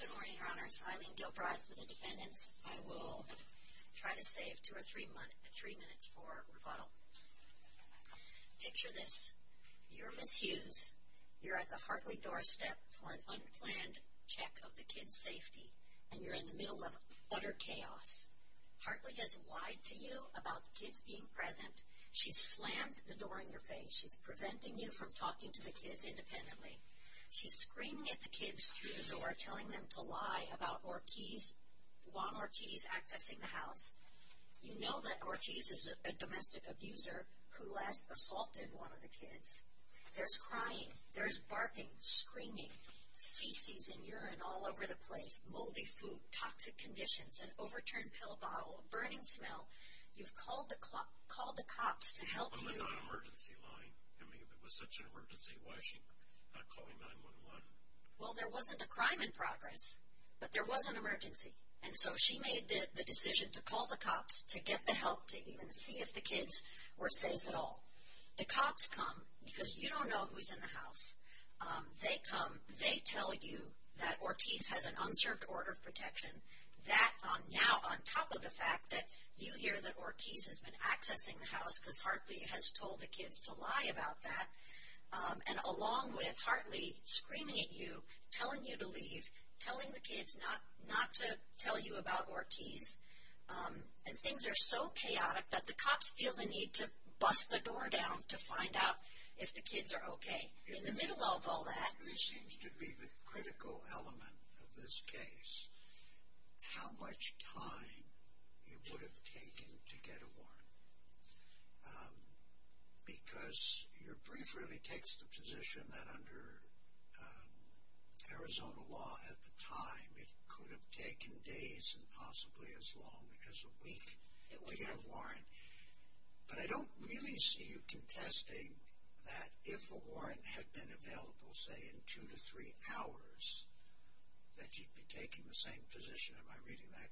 Good morning, Your Honors. Eileen Gilbride for the defendants. I will try to save 2 or 3 minutes for rebuttal. Picture this. You're Ms. Hughes. You're at the Hartley doorstep for an unplanned check of the kids' safety. And you're in the middle of utter chaos. Hartley has lied to you about the kids being present. She's slammed the door in your face. She's preventing you from talking to the kids independently. She's screaming at the kids through the door, telling them to lie about Juan Ortiz accessing the house. You know that Ortiz is a domestic abuser who last assaulted one of the kids. There's crying, there's barking, screaming, feces and urine all over the place, moldy food, toxic conditions, an overturned pill bottle, a burning smell. You've called the cops to help you. Well, they're not an emergency line. I mean, if it was such an emergency, why is she not calling 911? Well, there wasn't a crime in progress, but there was an emergency. And so she made the decision to call the cops to get the help to even see if the kids were safe at all. The cops come because you don't know who's in the house. They come, they tell you that Ortiz has an unserved order of protection. That, now, on top of the fact that you hear that Ortiz has been accessing the house because Hartley has told the kids to lie about that. And along with Hartley screaming at you, telling you to leave, telling the kids not to tell you about Ortiz. And things are so chaotic that the cops feel the need to bust the door down to find out if the kids are okay. In the middle of all that. Hartley seems to be the critical element of this case. How much time it would have taken to get a warrant. Because your brief really takes the position that under Arizona law at the time, it could have taken days and possibly as long as a week to get a warrant. But I don't really see you contesting that if a warrant had been available, say, in two to three hours, that you'd be taking the same position. Am I reading that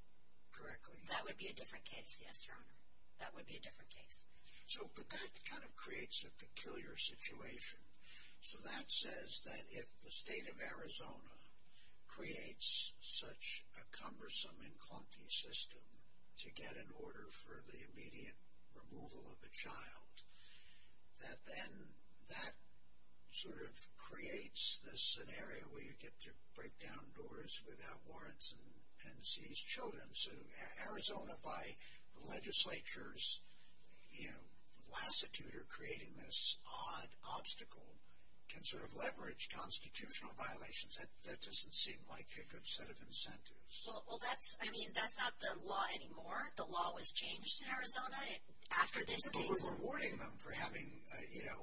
correctly? That would be a different case, yes, Your Honor. That would be a different case. So, but that kind of creates a peculiar situation. So that says that if the state of Arizona creates such a cumbersome and clunky system to get an order for the immediate removal of a child, that then that sort of creates this scenario where you get to break down doors without warrants and seize children. So Arizona by the legislature's, you know, lassitude or creating this odd obstacle can sort of leverage constitutional violations. That doesn't seem like a good set of incentives. Well, that's, I mean, that's not the law anymore. The law was changed in Arizona after this case. But we're rewarding them for having, you know,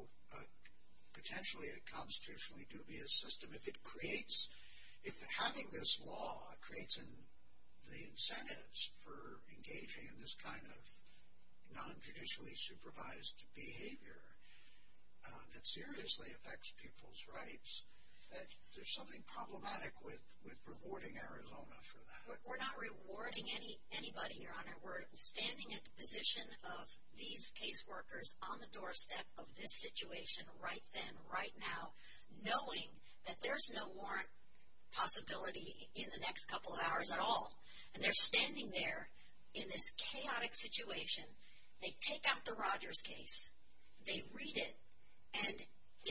potentially a constitutionally dubious system. If it creates, if having this law creates the incentives for engaging in this kind of non-traditionally supervised behavior that seriously affects people's rights, that there's something problematic with rewarding Arizona for that. We're not rewarding anybody, Your Honor. We're standing at the position of these case workers on the doorstep of this situation right then, right now, knowing that there's no warrant possibility in the next couple of hours at all. And they're standing there in this chaotic situation. They take out the Rogers case. They read it. And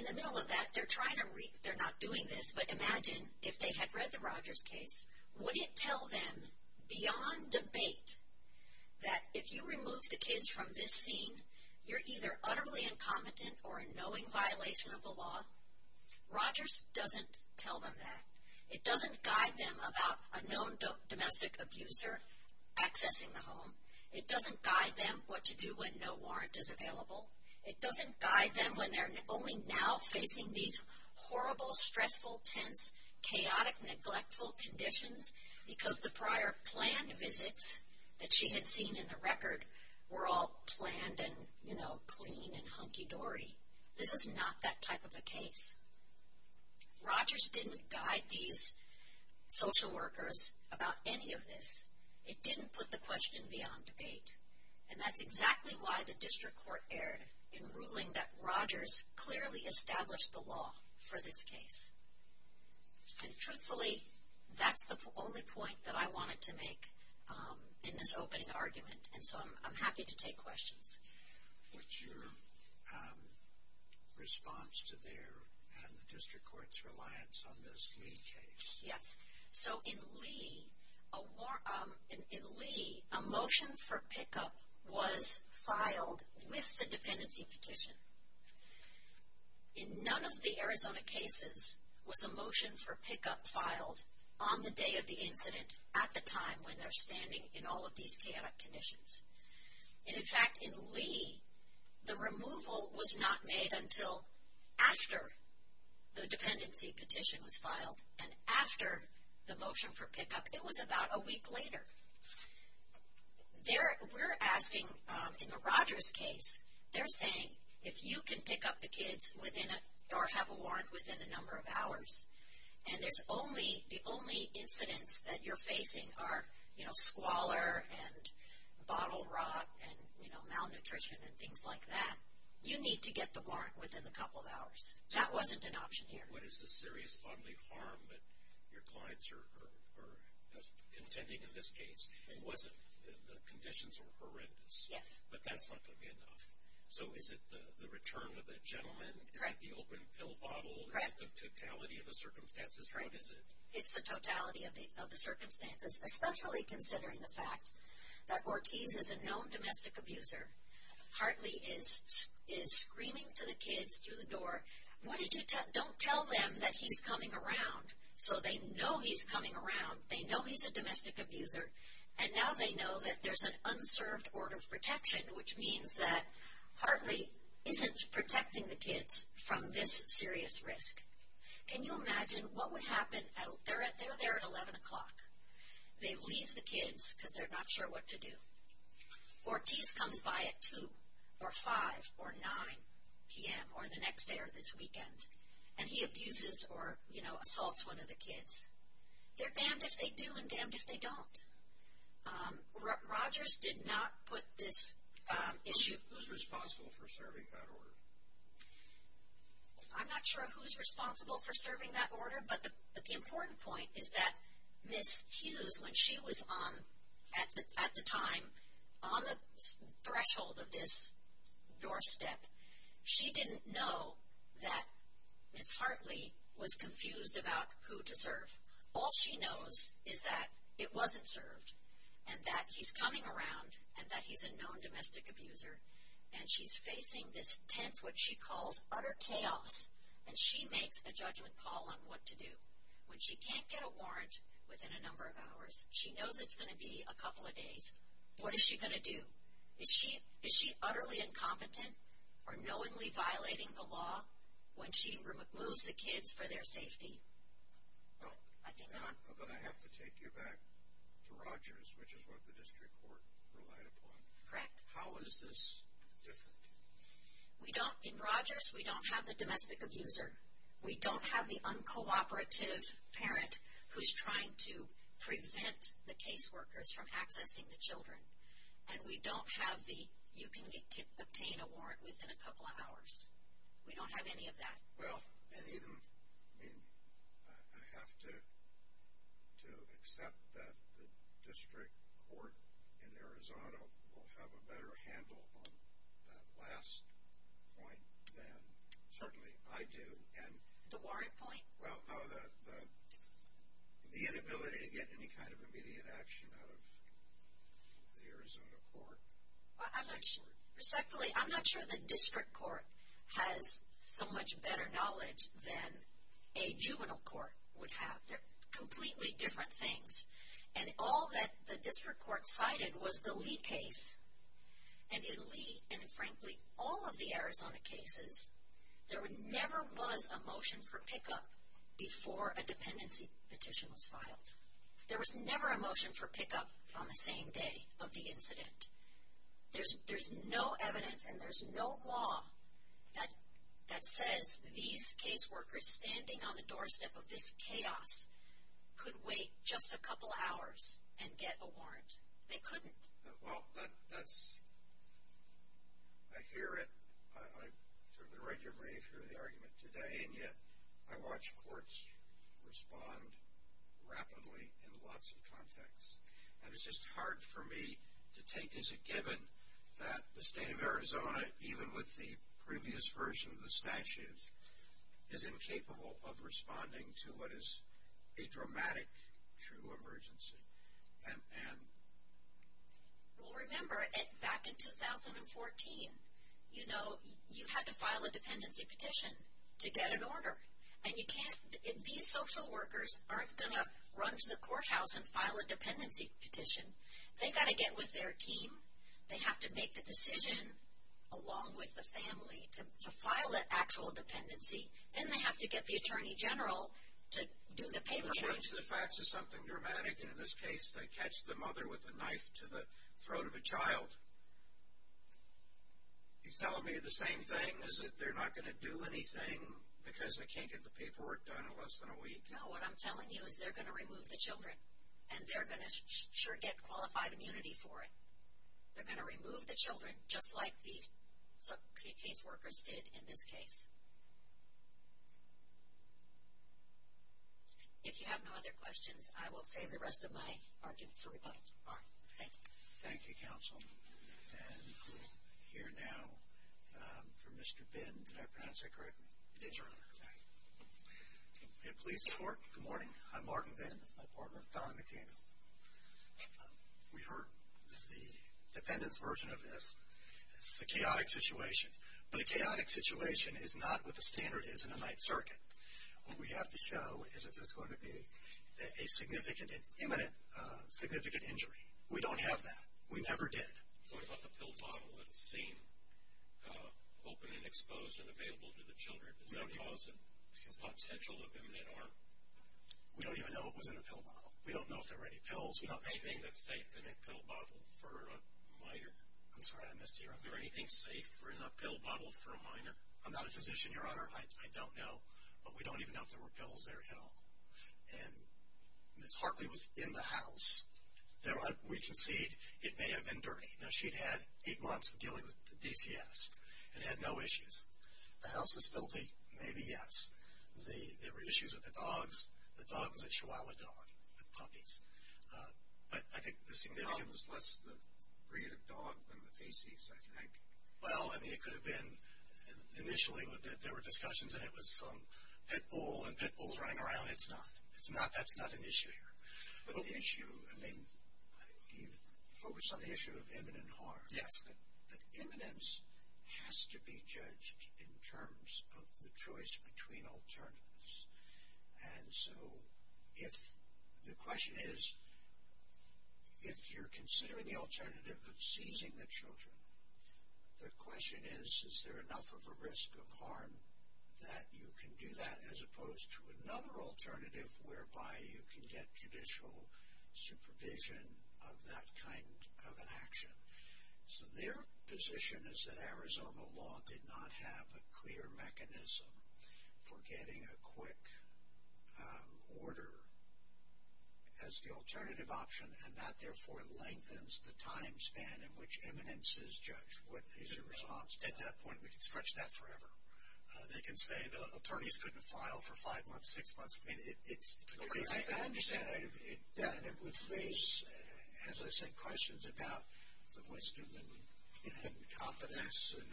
in the middle of that, they're trying to read, they're not doing this, but imagine if they had read the Rogers case. Would it tell them beyond debate that if you remove the kids from this scene, you're either utterly incompetent or a knowing violation of the law? Rogers doesn't tell them that. It doesn't guide them about a known domestic abuser accessing the home. It doesn't guide them what to do when no warrant is available. It doesn't guide them when they're only now facing these horrible, stressful, tense, chaotic, neglectful conditions because the prior planned visits that she had seen in the record were all planned and, you know, clean and hunky-dory. This is not that type of a case. Rogers didn't guide these social workers about any of this. It didn't put the question beyond debate. And that's exactly why the district court erred in ruling that Rogers clearly established the law for this case. And truthfully, that's the only point that I wanted to make in this opening argument, and so I'm happy to take questions. What's your response to their and the district court's reliance on this Lee case? Yes. So in Lee, a motion for pickup was filed with the dependency petition. In none of the Arizona cases was a motion for pickup filed on the day of the incident at the time when they're standing in all of these chaotic conditions. And, in fact, in Lee, the removal was not made until after the dependency petition was filed. And after the motion for pickup, it was about a week later. We're asking in the Rogers case, they're saying, if you can pick up the kids or have a warrant within a number of hours, and the only incidents that you're facing are squalor and bottle rot and malnutrition and things like that, you need to get the warrant within a couple of hours. That wasn't an option here. What is the serious bodily harm that your clients are contending in this case? The conditions were horrendous. Yes. But that's not going to be enough. So is it the return of the gentleman? Correct. Is it the open pill bottle? Correct. Is it the totality of the circumstances? Correct. What is it? It's the totality of the circumstances, especially considering the fact that Ortiz is a known domestic abuser. Hartley is screaming to the kids through the door, don't tell them that he's coming around. So they know he's coming around. They know he's a domestic abuser. And now they know that there's an unserved order of protection, which means that Hartley isn't protecting the kids from this serious risk. Can you imagine what would happen? They're there at 11 o'clock. They leave the kids because they're not sure what to do. Ortiz comes by at 2 or 5 or 9 p.m. or the next day or this weekend, and he abuses or, you know, assaults one of the kids. They're damned if they do and damned if they don't. Rogers did not put this issue. Who's responsible for serving that order? I'm not sure who's responsible for serving that order, but the important point is that Ms. Hughes, when she was at the time on the threshold of this doorstep, she didn't know that Ms. Hartley was confused about who to serve. All she knows is that it wasn't served and that he's coming around and that he's a known domestic abuser, and she's facing this tense, what she calls utter chaos, and she makes a judgment call on what to do. When she can't get a warrant within a number of hours, she knows it's going to be a couple of days. What is she going to do? Is she utterly incompetent or knowingly violating the law when she removes the kids for their safety? I think not. But I have to take you back to Rogers, which is what the district court relied upon. Correct. How is this different? In Rogers, we don't have the domestic abuser. We don't have the uncooperative parent who's trying to prevent the caseworkers from accessing the children, and we don't have the you can obtain a warrant within a couple of hours. We don't have any of that. Well, I have to accept that the district court in Arizona will have a better handle on that last point than certainly I do. The warrant point? Well, no, the inability to get any kind of immediate action out of the Arizona court. I'm not sure. Respectfully, I'm not sure the district court has so much better knowledge than a juvenile court would have. They're completely different things. And all that the district court cited was the Lee case. And in Lee and, frankly, all of the Arizona cases, there never was a motion for pickup before a dependency petition was filed. There was never a motion for pickup on the same day of the incident. There's no evidence and there's no law that says these caseworkers standing on the doorstep of this chaos could wait just a couple hours and get a warrant. They couldn't. Well, that's ‑‑ I hear it. I regularly hear the argument today, and yet I watch courts respond rapidly in lots of contexts. And it's just hard for me to take as a given that the state of Arizona, even with the previous version of the statute, is incapable of responding to what is a dramatic true emergency. Well, remember, back in 2014, you know, you had to file a dependency petition to get an order. And you can't ‑‑ these social workers aren't going to run to the courthouse and file a dependency petition. They've got to get with their team. They have to make the decision along with the family to file an actual dependency. Then they have to get the attorney general to do the paperwork. They switch the facts to something dramatic, and in this case, they catch the mother with a knife to the throat of a child. You're telling me the same thing, is that they're not going to do anything because they can't get the paperwork done in less than a week? No, what I'm telling you is they're going to remove the children, and they're going to sure get qualified immunity for it. They're going to remove the children, just like these caseworkers did in this case. If you have no other questions, I will save the rest of my argument for rebuttal. All right. Thank you. Thank you, Counsel. And we'll hear now from Mr. Bin. Did I pronounce that correctly? Yes, Your Honor. Okay. May it please the Court. Good morning. I'm Martin Bin. This is my partner, Don McDaniel. We heard the defendant's version of this. It's a chaotic situation, but a chaotic situation is not what the standard is in a Ninth Circuit. What we have to show is that this is going to be a significant, imminent, significant injury. We don't have that. We never did. What about the pill bottle that's seen open and exposed and available to the children? Is that causing potential of imminent harm? We don't even know what was in the pill bottle. We don't know if there were any pills. We don't know anything that's safe in a pill bottle for a minor. I'm sorry, I missed you. Are there anything safe in a pill bottle for a minor? I'm not a physician, Your Honor. I don't know. But we don't even know if there were pills there at all. And it's hardly within the house. We concede it may have been dirty. Now, she'd had eight months of dealing with DCS and had no issues. The house is filthy? Maybe, yes. There were issues with the dogs. The dog was a chihuahua dog with puppies. But I think the significance was less the breed of dog than the feces, I think. Well, I mean, it could have been initially there were discussions and it was some pit bull and pit bulls running around. It's not. That's not an issue here. But the issue, I mean, you focus on the issue of imminent harm. Yes. But imminence has to be judged in terms of the choice between alternatives. And so if the question is, if you're considering the alternative of seizing the children, the question is, is there enough of a risk of harm that you can do that as opposed to another alternative whereby you can get judicial supervision of that kind of an action? So their position is that Arizona law did not have a clear mechanism for getting a quick order as the alternative option and that, therefore, lengthens the time span in which imminence is judged. What is your response to that? At that point, we can stretch that forever. They can say the attorneys couldn't file for five months, six months. I mean, it's crazy. I understand. And it would raise, as I said, questions about the wisdom and competence and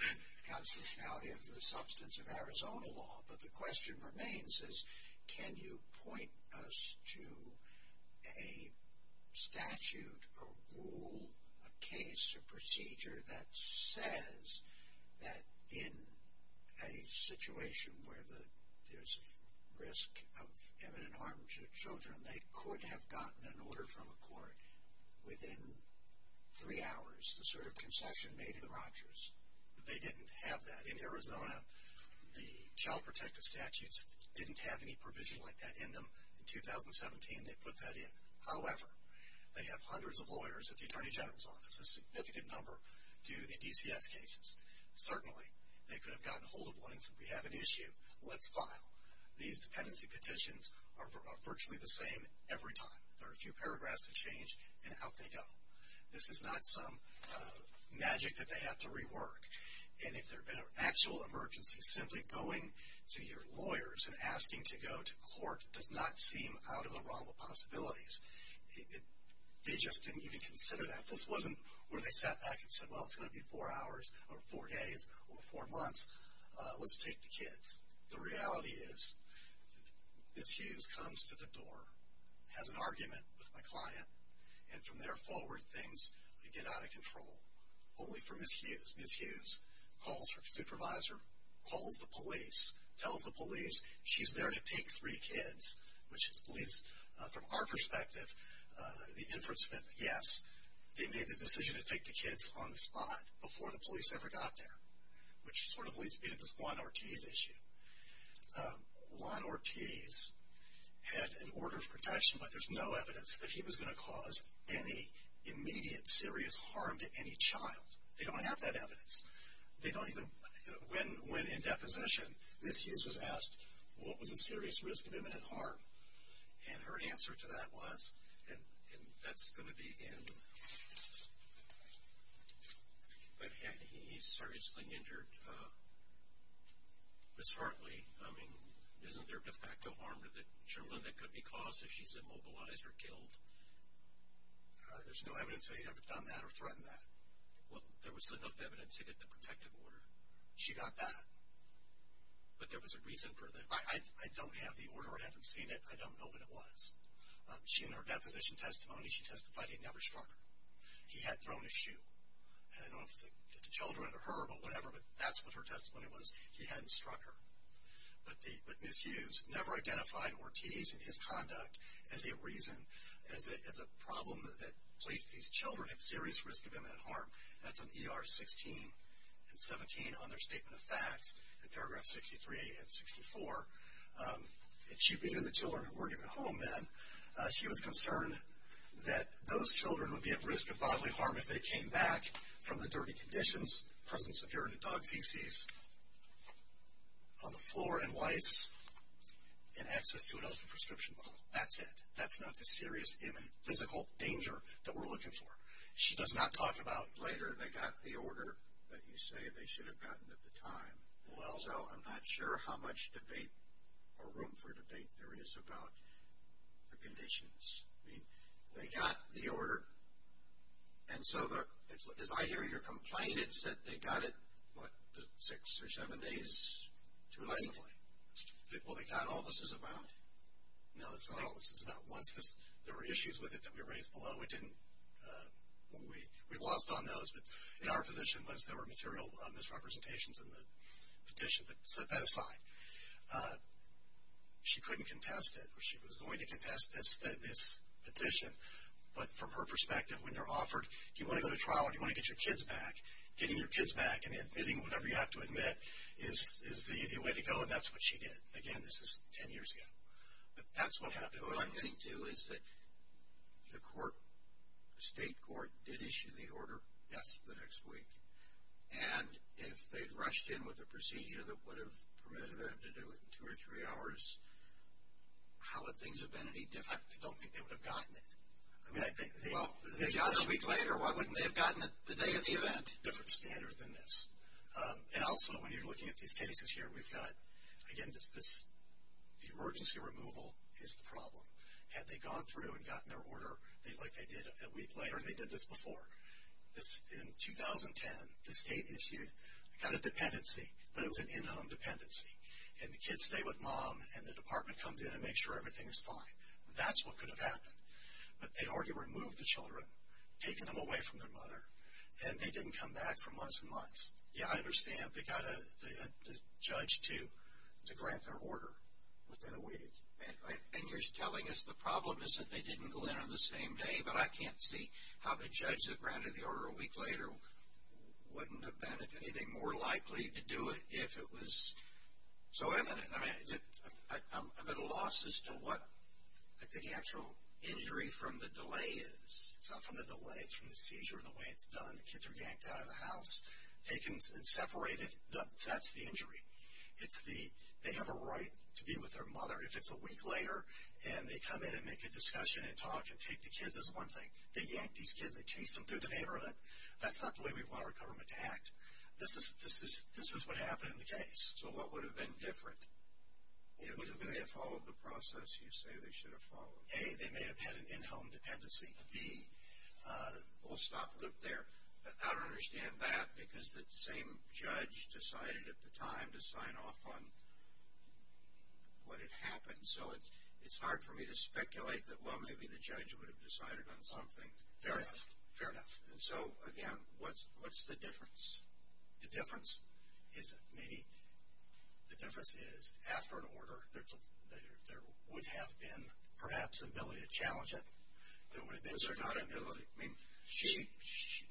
constitutionality of the substance of Arizona law. But the question remains is can you point us to a statute or rule, a case, a procedure that says that in a situation where there's risk of imminent harm to children, they could have gotten an order from a court within three hours, the sort of concession made in Rogers. They didn't have that. In Arizona, the Child Protective Statutes didn't have any provision like that in them. In 2017, they put that in. However, they have hundreds of lawyers at the Attorney General's Office, a significant number do the DCS cases. Certainly, they could have gotten a hold of one and said, we have an issue. Let's file. These dependency petitions are virtually the same every time. There are a few paragraphs that change, and out they go. This is not some magic that they have to rework. And if there had been an actual emergency, simply going to your lawyers and asking to go to court does not seem out of the realm of possibilities. They just didn't even consider that. This wasn't where they sat back and said, well, it's going to be four hours or four days or four months. Let's take the kids. The reality is Ms. Hughes comes to the door, has an argument with my client, and from there forward things get out of control, only for Ms. Hughes. Ms. Hughes calls her supervisor, calls the police, tells the police she's there to take three kids, which at least from our perspective, the inference that, yes, they made the decision to take the kids on the spot before the police ever got there, which sort of leads me to this Juan Ortiz issue. Juan Ortiz had an order of protection, but there's no evidence that he was going to cause any immediate serious harm to any child. They don't have that evidence. When in deposition, Ms. Hughes was asked, what was the serious risk of imminent harm? And her answer to that was, and that's going to be in. But had he seriously injured Ms. Hartley, I mean, isn't there de facto harm to the children that could be caused if she's immobilized or killed? There's no evidence that he'd ever done that or threatened that. Well, there was enough evidence to get the protective order. She got that. But there was a reason for that. I don't have the order. I haven't seen it. I don't know what it was. In her deposition testimony, she testified he'd never struck her. He had thrown a shoe. And I don't know if it was the children or her, but whatever, but that's what her testimony was, he hadn't struck her. But Ms. Hughes never identified Ortiz and his conduct as a reason, as a problem that placed these children at serious risk of imminent harm. That's on ER 16 and 17 on their statement of facts in paragraph 63 and 64. And she knew the children weren't even home then. She was concerned that those children would be at risk of bodily harm if they came back from the dirty conditions, presence of urine and dog feces on the floor and lice, and access to an open prescription bottle. That's it. That's not the serious imminent physical danger that we're looking for. She does not talk about later they got the order that you say they should have gotten at the time. Well, I'm not sure how much debate or room for debate there is about the conditions. I mean, they got the order. And so as I hear your complaint, it's that they got it, what, six or seven days too late? Well, they got all this is about. No, it's not all this is about. Once there were issues with it that we raised below, we lost on those. But in our position, once there were material misrepresentations in the petition, but set that aside. She couldn't contest it, or she was going to contest this petition. But from her perspective, when they're offered, do you want to go to trial or do you want to get your kids back? Getting your kids back and admitting whatever you have to admit is the easy way to go, and that's what she did. Again, this is ten years ago. But that's what happened. What I think, too, is that the state court did issue the order. Yes. The next week. And if they'd rushed in with a procedure that would have permitted them to do it in two or three hours, how would things have been any different? I don't think they would have gotten it. I mean, they got it a week later. Why wouldn't they have gotten it the day of the event? Different standard than this. And also, when you're looking at these cases here, we've got, again, the emergency removal is the problem. Had they gone through and gotten their order like they did a week later, and they did this before. In 2010, the state issued, got a dependency, but it was an in-home dependency. And the kids stay with mom, and the department comes in and makes sure everything is fine. That's what could have happened. But they'd already removed the children, taken them away from their mother, and they didn't come back for months and months. Yeah, I understand. They got a judge to grant their order within a week. And you're telling us the problem is that they didn't go in on the same day, but I can't see how the judge that granted the order a week later wouldn't have been anything more likely to do it if it was so imminent. I mean, I'm at a loss as to what the actual injury from the delay is. It's not from the delay. It's from the seizure and the way it's done. When the kids are yanked out of the house, taken and separated, that's the injury. It's the, they have a right to be with their mother. If it's a week later and they come in and make a discussion and talk and take the kids, that's one thing. They yanked these kids and chased them through the neighborhood. That's not the way we want our government to act. This is what happened in the case. So what would have been different? They may have followed the process you say they should have followed. A, they may have had an in-home dependency. B, we'll stop there. I don't understand that because the same judge decided at the time to sign off on what had happened. So it's hard for me to speculate that, well, maybe the judge would have decided on something. Fair enough. And so, again, what's the difference? The difference is maybe the difference is after an order there would have been perhaps the ability to challenge it. Was there not an ability? I mean,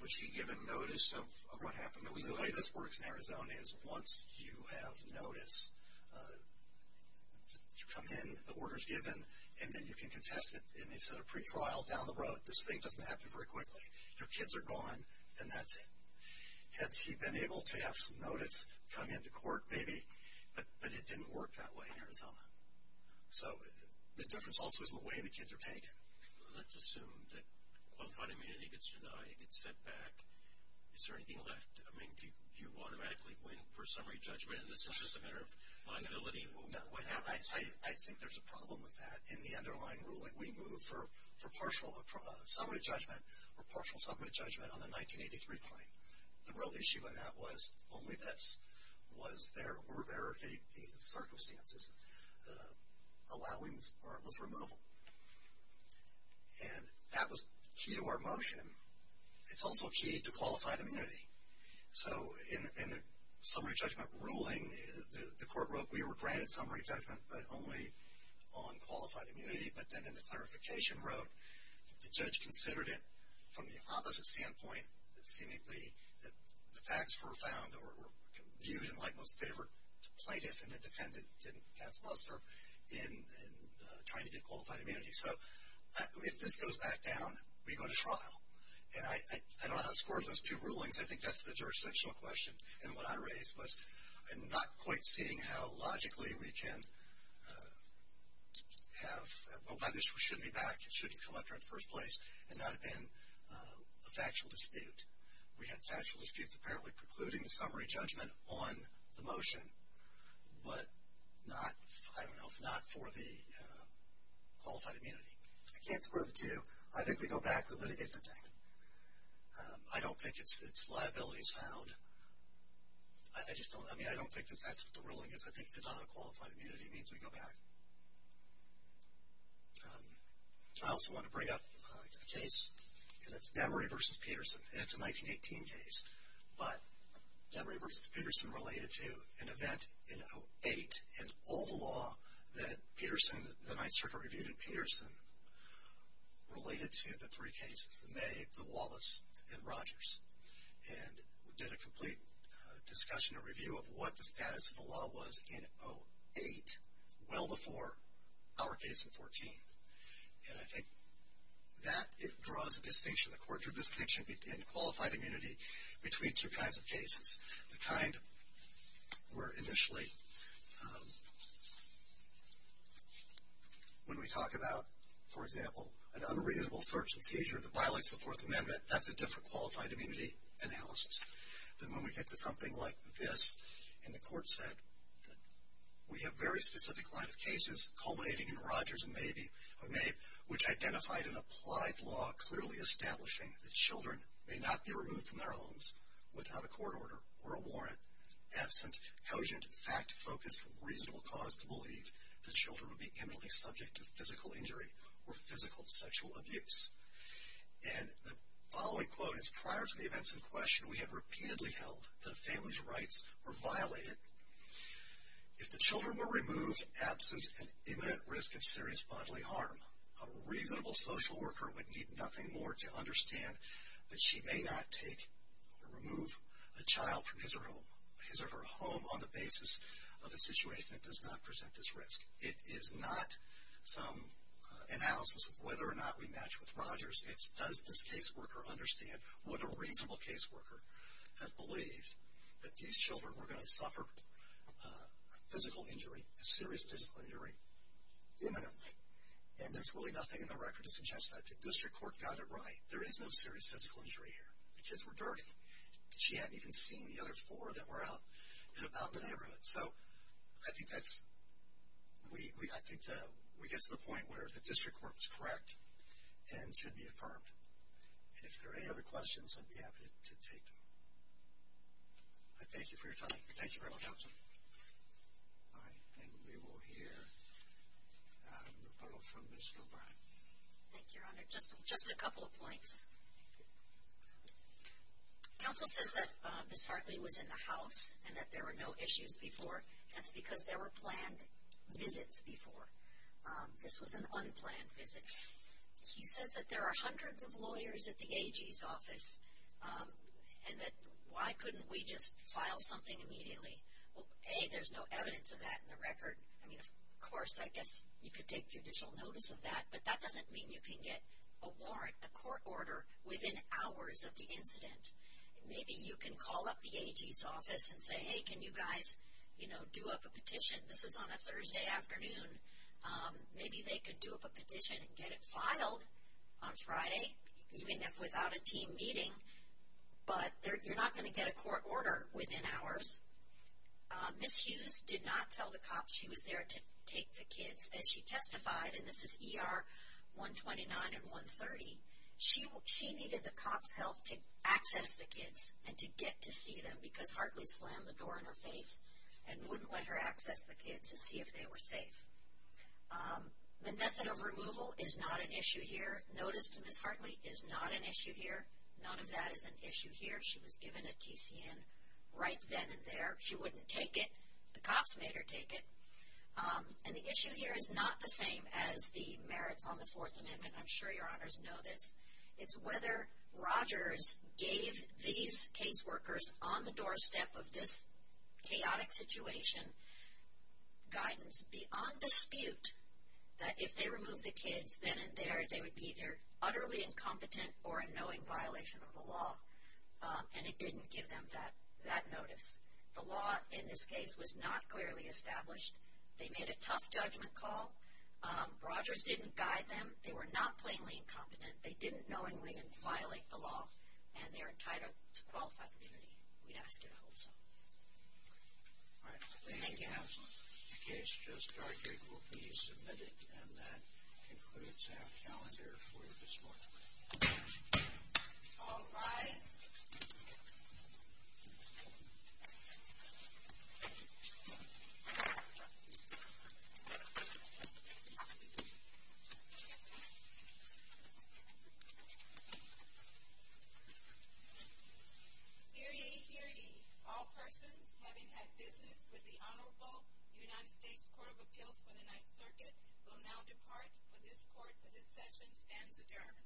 was she given notice of what happened? The way this works in Arizona is once you have notice, you come in, the order is given, and then you can contest it in a sort of pretrial down the road. This thing doesn't happen very quickly. Your kids are gone and that's it. Had she been able to have some notice, come into court maybe, but it didn't work that way in Arizona. So the difference also is the way the kids are taken. Let's assume that qualified immunity gets denied, gets sent back. Is there anything left? I mean, do you automatically win for summary judgment and this is just a matter of liability? No. I think there's a problem with that. In the underlying ruling, we move for partial summary judgment or partial summary judgment on the 1983 claim. The real issue with that was only this. Was there or were there these circumstances allowing this part of this removal? And that was key to our motion. It's also key to qualified immunity. So in the summary judgment ruling, the court wrote we were granted summary judgment but only on qualified immunity. But then in the clarification wrote the judge considered it from the opposite standpoint, seemingly that the facts were found or viewed in like most favor to plaintiff and the defendant didn't pass muster in trying to get qualified immunity. So if this goes back down, we go to trial. And I don't know how to score those two rulings. I think that's the jurisdictional question. And what I raised was I'm not quite seeing how logically we can have, well, by this we shouldn't be back. It should have come up here in the first place and not have been a factual dispute. We had factual disputes apparently precluding the summary judgment on the motion, but not, I don't know, if not for the qualified immunity. I can't score the two. I think we go back. We litigate the thing. I don't think it's liabilities found. I just don't, I mean, I don't think that's what the ruling is. I think it's not a qualified immunity. It means we go back. I also want to bring up a case, and it's Damory v. Peterson. And it's a 1918 case. But Damory v. Peterson related to an event in 08 and all the law that Peterson, the Ninth Circuit reviewed in Peterson related to the three cases, the May, the Wallace, and Rogers. And we did a complete discussion and review of what the status of the law was in 08, well before our case in 14. And I think that it draws a distinction, the court drew a distinction in qualified immunity between two kinds of cases. The kind where initially when we talk about, for example, an unreasonable search and seizure that violates the Fourth Amendment, that's a different qualified immunity analysis than when we get to something like this. And the court said that we have very specific line of cases culminating in Rogers and May, which identified an applied law clearly establishing that children may not be removed from their homes without a court order or a warrant, absent cogent, fact-focused, reasonable cause to believe that children would be eminently subject to physical injury or physical sexual abuse. And the following quote is prior to the events in question, we have repeatedly held that a family's rights were violated. If the children were removed absent an imminent risk of serious bodily harm, a reasonable social worker would need nothing more to understand that she may not take or remove a child from his or her home on the basis of a situation that does not present this risk. It is not some analysis of whether or not we match with Rogers. It's does this case worker understand what a reasonable case worker has believed, that these children were going to suffer a physical injury, a serious physical injury imminently. And there's really nothing in the record to suggest that the district court got it right. There is no serious physical injury here. The kids were dirty. She hadn't even seen the other four that were out in and about the neighborhood. So I think we get to the point where the district court was correct and should be affirmed. And if there are any other questions, I'd be happy to take them. I thank you for your time. Thank you very much, Counsel. All right. And we will hear a rebuttal from Ms. O'Brien. Thank you, Your Honor. Just a couple of points. Counsel says that Ms. Hartley was in the house and that there were no issues before. That's because there were planned visits before. This was an unplanned visit. He says that there are hundreds of lawyers at the AG's office and that why couldn't we just file something immediately? A, there's no evidence of that in the record. I mean, of course, I guess you could take judicial notice of that, but that doesn't mean you can get a warrant, a court order, within hours of the incident. Maybe you can call up the AG's office and say, hey, can you guys, you know, do up a petition? This was on a Thursday afternoon. Maybe they could do up a petition and get it filed on Friday, even if without a team meeting. But you're not going to get a court order within hours. Ms. Hughes did not tell the cops she was there to take the kids. As she testified, and this is ER 129 and 130, she needed the cops' help to access the kids and to get to see them because Hartley slammed the door in her face and wouldn't let her access the kids to see if they were safe. The method of removal is not an issue here. Notice to Ms. Hartley is not an issue here. None of that is an issue here. She was given a TCN right then and there. She wouldn't take it. The cops made her take it. And the issue here is not the same as the merits on the Fourth Amendment. I'm sure your honors know this. It's whether Rogers gave these caseworkers on the doorstep of this chaotic situation guidance beyond dispute that if they removed the kids then and there, they would be either utterly incompetent or a knowing violation of the law. And it didn't give them that notice. The law in this case was not clearly established. They made a tough judgment call. Rogers didn't guide them. They were not plainly incompetent. They didn't knowingly violate the law, and they're entitled to qualified immunity. We'd ask you to hold so. All right. Thank you, Your Honor. The case just argued will be submitted, and that concludes our calendar for this morning. All rise. Please be seated. Hear ye, hear ye. All persons having had business with the Honorable United States Court of Appeals for the Ninth Circuit will now depart for this court for this session stands adjourned.